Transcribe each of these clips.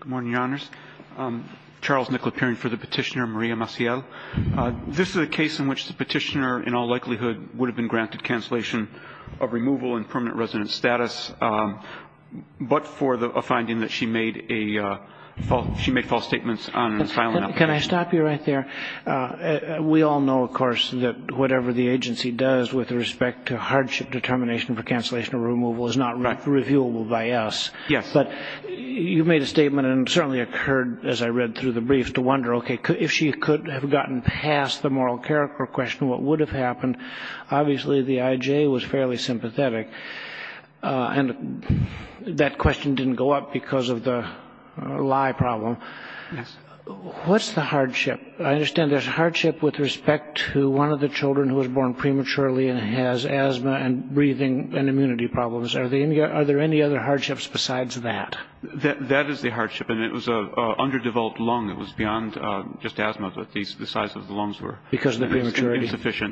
Good morning, Your Honors. Charles Nickl appearing for the petitioner, Maria Maciel. This is a case in which the petitioner in all likelihood would have been granted cancellation of removal and permanent resident status, but for a finding that she made false statements on an asylum application. Can I stop you right there? We all know, of course, that whatever the agency does with respect to hardship determination for cancellation of removal is not reviewable by us. Yes. But you made a statement and certainly occurred, as I read through the brief, to wonder, okay, if she could have gotten past the moral character question, what would have happened? Obviously, the IJ was fairly sympathetic, and that question didn't go up because of the lie problem. Yes. What's the hardship? I understand there's hardship with respect to one of the children who was born prematurely and has asthma and breathing and immunity problems. Are there any other hardships besides that? That is the hardship, and it was an underdeveloped lung. It was beyond just asthma, but the size of the lungs were insufficient. Because of the prematurity?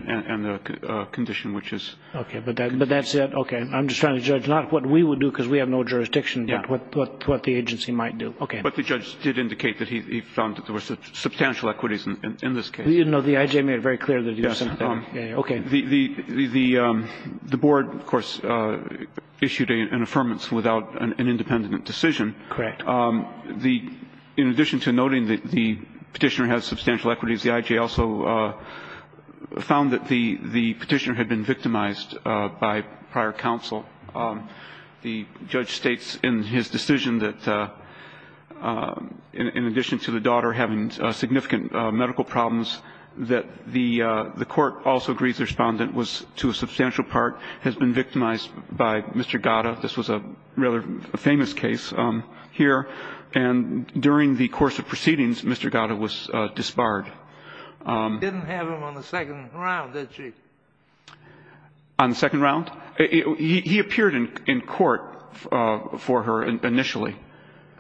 And the condition, which is... Okay, but that's it? Okay. I'm just trying to judge not what we would do because we have no jurisdiction, but what the agency might do. Okay. But the judge did indicate that he found that there were substantial equities in this case. No, the IJ made it very clear that he was sympathetic. Okay. The board, of course, issued an affirmance without an independent decision. Correct. In addition to noting that the Petitioner has substantial equities, the IJ also found that the Petitioner had been victimized by prior counsel. The judge states in his decision that in addition to the daughter having significant medical problems, that the court also agrees the Respondent was, to a substantial part, has been victimized by Mr. Gatta. This was a rather famous case here. And during the course of proceedings, Mr. Gatta was disbarred. Didn't have him on the second round, did she? On the second round? He appeared in court for her initially.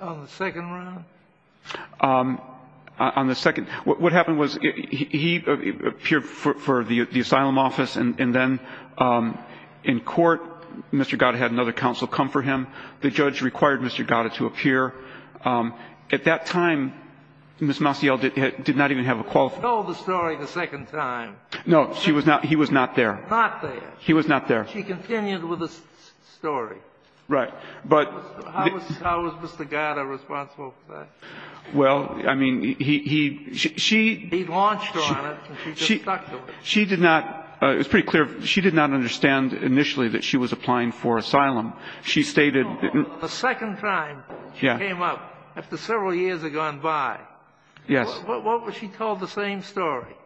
On the second round? On the second. What happened was he appeared for the asylum office, and then in court, Mr. Gatta had another counsel come for him. The judge required Mr. Gatta to appear. At that time, Ms. Maciel did not even have a qualification. She told the story the second time. No, she was not. He was not there. Not there. He was not there. She continued with the story. Right. How was Mr. Gatta responsible for that? Well, I mean, he ‑‑ He launched her on it, and she just stuck to it. She did not ‑‑ it was pretty clear ‑‑ she did not understand initially that she was applying for asylum. She stated ‑‑ The second time she came up, after several years had gone by, what was she told? The same story.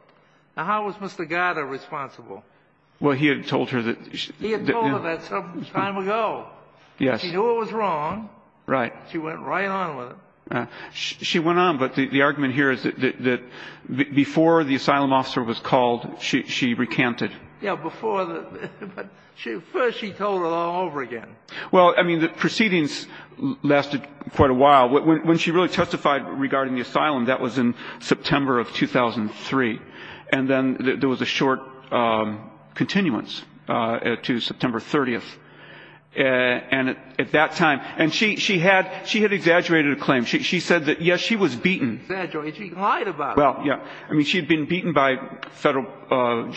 Now, how was Mr. Gatta responsible? Well, he had told her that ‑‑ He had told her that some time ago. Yes. She knew it was wrong. Right. She went right on with it. She went on, but the argument here is that before the asylum officer was called, she recanted. Yeah, before the ‑‑ but first she told it all over again. Well, I mean, the proceedings lasted quite a while. When she really testified regarding the asylum, that was in September of 2003. And then there was a short continuance to September 30th. And at that time ‑‑ and she had exaggerated a claim. She said that, yes, she was beaten. Exaggerated. She lied about it. Well, yeah. I mean, she had been beaten by federal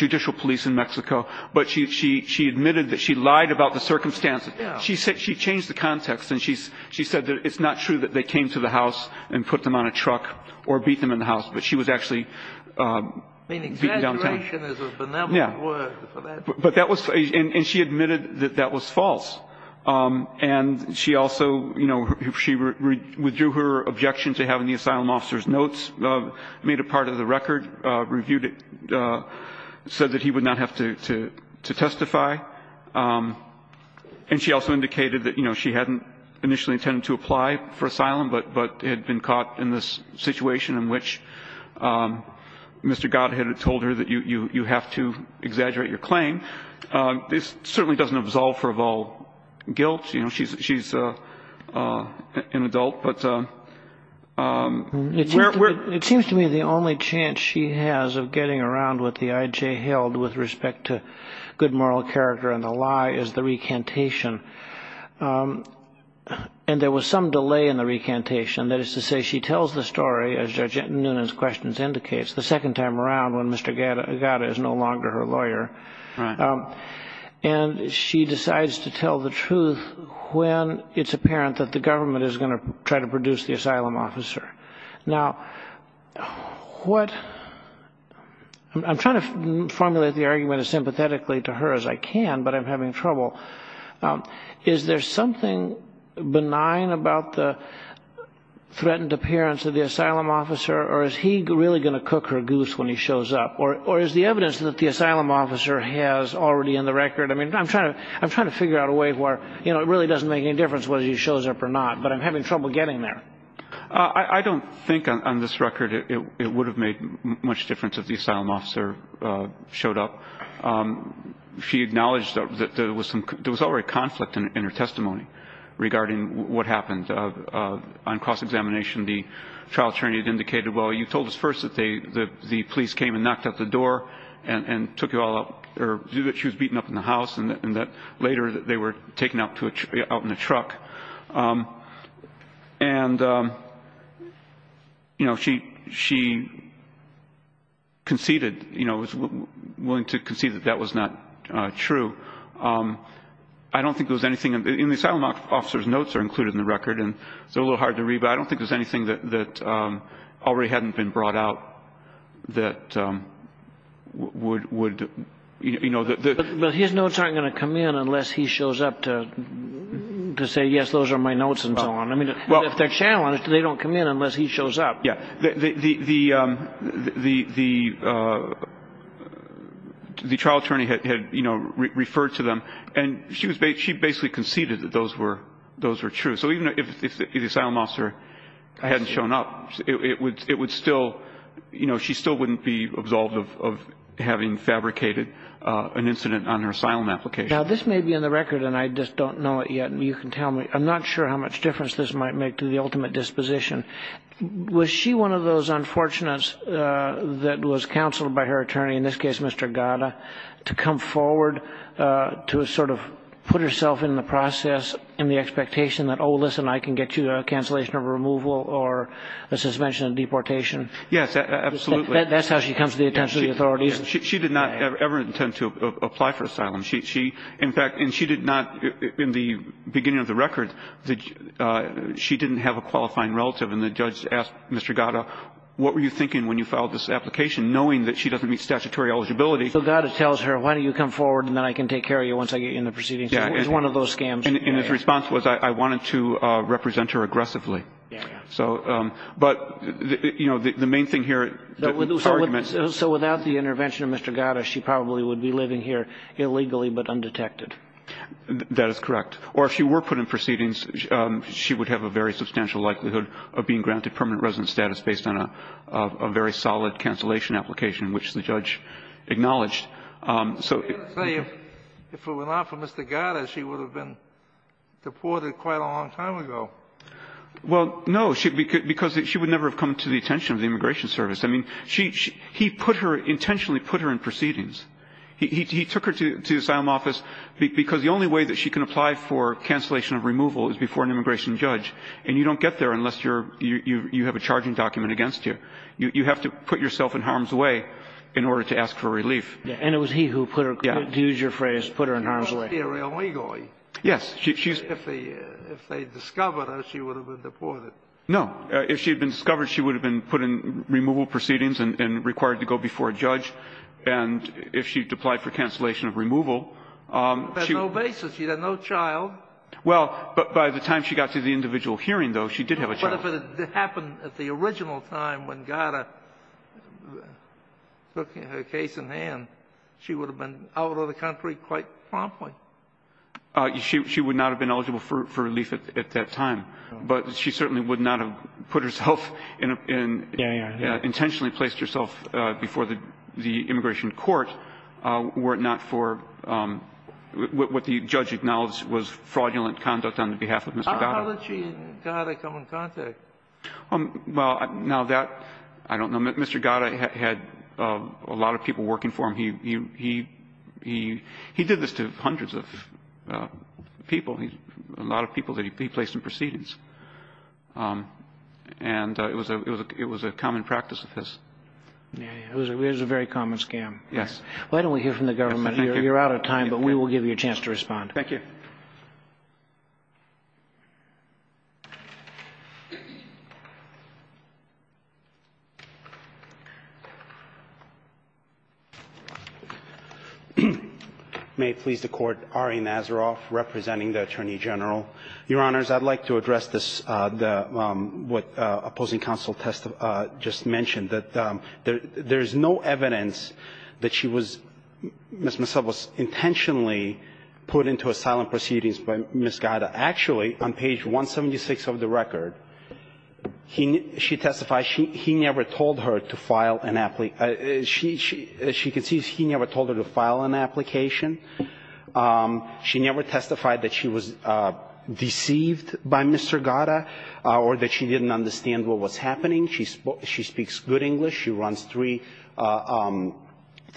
judicial police in Mexico, but she admitted that she lied about the circumstances. Yeah. She changed the context, and she said that it's not true that they came to the house and put them on a truck or beat them in the house, but she was actually beaten downtown. I mean, exaggeration is a benevolent word for that. But that was ‑‑ and she admitted that that was false. And she also, you know, she withdrew her objection to having the asylum officer's notes, made a part of the record, reviewed it, said that he would not have to testify. And she also indicated that, you know, she hadn't initially intended to apply for asylum but had been caught in this situation in which Mr. Godhead had told her that you have to exaggerate your claim. This certainly doesn't absolve her of all guilt. You know, she's an adult. It seems to me the only chance she has of getting around what the IJ held with respect to good moral character and the lie is the recantation. And there was some delay in the recantation. That is to say, she tells the story, as Judge Nunez's questions indicates, the second time around when Mr. Godhead is no longer her lawyer. Right. And she decides to tell the truth when it's apparent that the government is going to try to produce the asylum officer. Now, what ‑‑ I'm trying to formulate the argument as sympathetically to her as I can, but I'm having trouble. Is there something benign about the threatened appearance of the asylum officer or is he really going to cook her goose when he shows up? Or is the evidence that the asylum officer has already in the record? I mean, I'm trying to figure out a way where, you know, it really doesn't make any difference whether he shows up or not, but I'm having trouble getting there. I don't think on this record it would have made much difference if the asylum officer showed up. She acknowledged that there was already conflict in her testimony regarding what happened. On cross‑examination, the trial attorney had indicated, well, you told us first that the police came and knocked at the door and took you all out, or that she was beaten up in the house and that later they were taken out in a truck. And, you know, she conceded, you know, was willing to concede that that was not true. I don't think there was anything in the asylum officer's notes that are included in the record, and they're a little hard to read, but I don't think there's anything that already hadn't been brought out that would, you know. But his notes aren't going to come in unless he shows up to say, yes, those are my notes and so on. I mean, if they're challenged, they don't come in unless he shows up. Yeah, the trial attorney had, you know, referred to them, and she basically conceded that those were true. So even if the asylum officer hadn't shown up, it would still, you know, she still wouldn't be absolved of having fabricated an incident on her asylum application. Now, this may be in the record, and I just don't know it yet, and you can tell me. I'm not sure how much difference this might make to the ultimate disposition. Was she one of those unfortunates that was counseled by her attorney, in this case Mr. Gada, to come forward to sort of put herself in the process and the expectation that, oh, listen, I can get you a cancellation of removal or a suspension of deportation? Yes, absolutely. That's how she comes to the attention of the authorities. She did not ever intend to apply for asylum. She, in fact, and she did not, in the beginning of the record, she didn't have a qualifying relative, and the judge asked Mr. Gada, what were you thinking when you filed this application, knowing that she doesn't meet statutory eligibility. So Gada tells her, why don't you come forward, and then I can take care of you once I get you in the proceedings. Yeah. It was one of those scams. And his response was, I wanted to represent her aggressively. Yeah, yeah. So, but, you know, the main thing here, the arguments. So without the intervention of Mr. Gada, she probably would be living here illegally but undetected. That is correct. Or if she were put in proceedings, she would have a very substantial likelihood of being granted permanent residence status based on a very solid cancellation application, which the judge acknowledged. So if it were not for Mr. Gada, she would have been deported quite a long time ago. Well, no. Because she would never have come to the attention of the Immigration Service. I mean, he put her, intentionally put her in proceedings. He took her to the asylum office because the only way that she can apply for cancellation of removal is before an immigration judge, and you don't get there unless you're you have a charging document against you. You have to put yourself in harm's way in order to ask for relief. And it was he who put her, to use your phrase, put her in harm's way. She must be illegal. Yes. If they discovered her, she would have been deported. No. If she had been discovered, she would have been put in removal proceedings and required to go before a judge, and if she had applied for cancellation of removal, she would have been deported. She had no basis. She had no child. Well, by the time she got to the individual hearing, though, she did have a child. But if it had happened at the original time when Gada took her case in hand, she would have been out of the country quite promptly. She would not have been eligible for relief at that time. But she certainly would not have put herself in and intentionally placed herself before the immigration court were it not for what the judge acknowledged was fraudulent conduct on the behalf of Mr. Gada. How did she and Gada come in contact? Well, now that I don't know. Mr. Gada had a lot of people working for him. He did this to hundreds of people, a lot of people that he placed in proceedings. And it was a common practice of his. It was a very common scam. Yes. Why don't we hear from the government? You're out of time, but we will give you a chance to respond. Thank you. May it please the Court, Ari Nazaroff representing the Attorney General. Your Honors, I'd like to address this, what opposing counsel just mentioned, that there is no evidence that she was, Ms. Mazzella was intentionally put into asylum proceedings by Ms. Gada. Actually, on page 176 of the record, she testified he never told her to file an application. As you can see, he never told her to file an application. She never testified that she was deceived by Mr. Gada or that she didn't understand what was happening. She speaks good English. She runs three,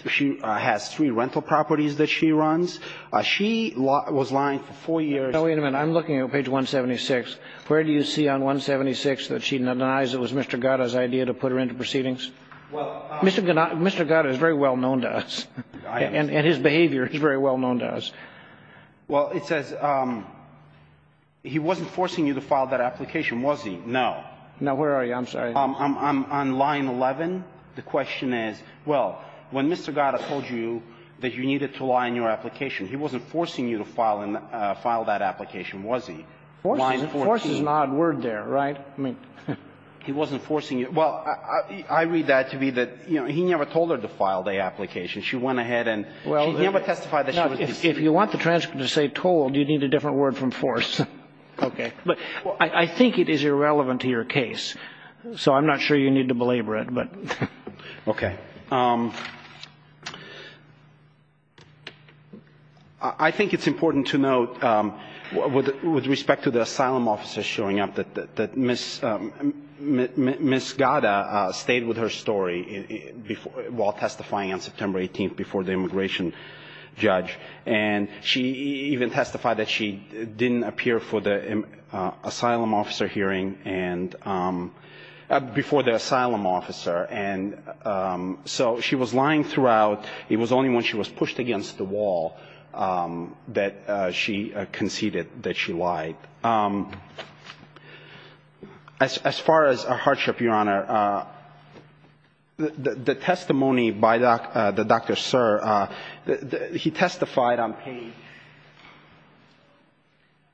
she has three rental properties that she runs. She was lying for four years. Now, wait a minute. I'm looking at page 176. Where do you see on 176 that she denies it was Mr. Gada's idea to put her into proceedings? Mr. Gada is very well known to us. And his behavior is very well known to us. Well, it says he wasn't forcing you to file that application, was he? No. No, where are you? I'm sorry. I'm on line 11. The question is, well, when Mr. Gada told you that you needed to lie in your application, he wasn't forcing you to file that application, was he? Force is an odd word there, right? He wasn't forcing you. Well, I read that to be that he never told her to file the application. She went ahead and she never testified that she was deceived. If you want the transcript to say told, you need a different word from force. Okay. But I think it is irrelevant to your case, so I'm not sure you need to belabor it. Okay. I think it's important to note, with respect to the asylum officer showing up, that Ms. Gada stayed with her story while testifying on September 18th before the immigration judge. And she even testified that she didn't appear for the asylum officer hearing before the asylum officer. So she was lying throughout. It was only when she was pushed against the wall that she conceded that she lied. As far as her hardship, Your Honor, the testimony by Dr. Sir, he testified on page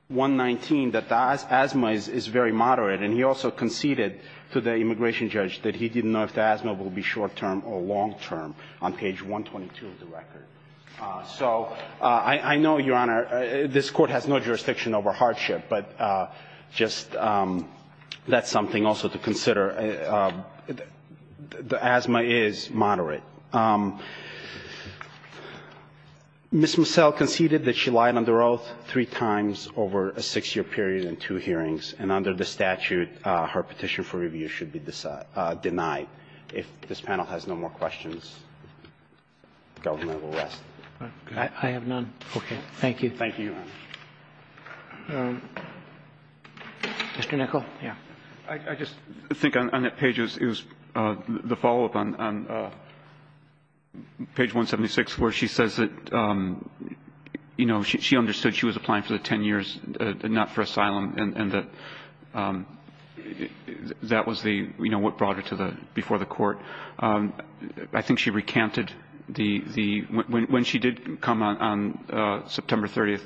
119 that the asthma was moderate, and he also conceded to the immigration judge that he didn't know if the asthma will be short-term or long-term on page 122 of the record. So I know, Your Honor, this Court has no jurisdiction over hardship, but just that's something also to consider. The asthma is moderate. Ms. Mussel conceded that she lied under oath three times over a six-year period and two hearings, and under the statute, her petition for review should be denied. If this panel has no more questions, the government will rest. I have none. Okay. Thank you. Thank you, Your Honor. Mr. Nichol? Yeah. I just think on that page, it was the follow-up on page 176 where she says that, you know, she understood she was applying for the 10 years, not for asylum, and that was the, you know, what brought her before the Court. I think she recanted the – when she did come on September 30th,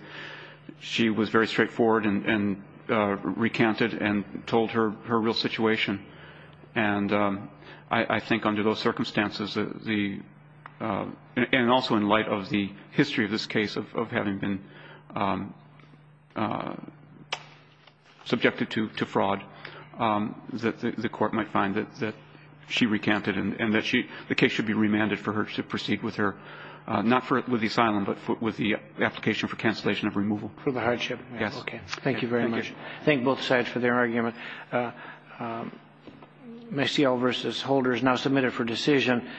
she was very straightforward and recanted and told her real situation. And I think under those circumstances, the – and also in light of the history of this case of having been subjected to fraud, that the Court might find that she recanted and that she – the case should be remanded for her to proceed with her – not with the asylum, but with the application for cancellation of removal. For the hardship. Yes. Okay. Thank you very much. Thank you. Thank both sides for their argument. Mecille v. Holder is now submitted for decision.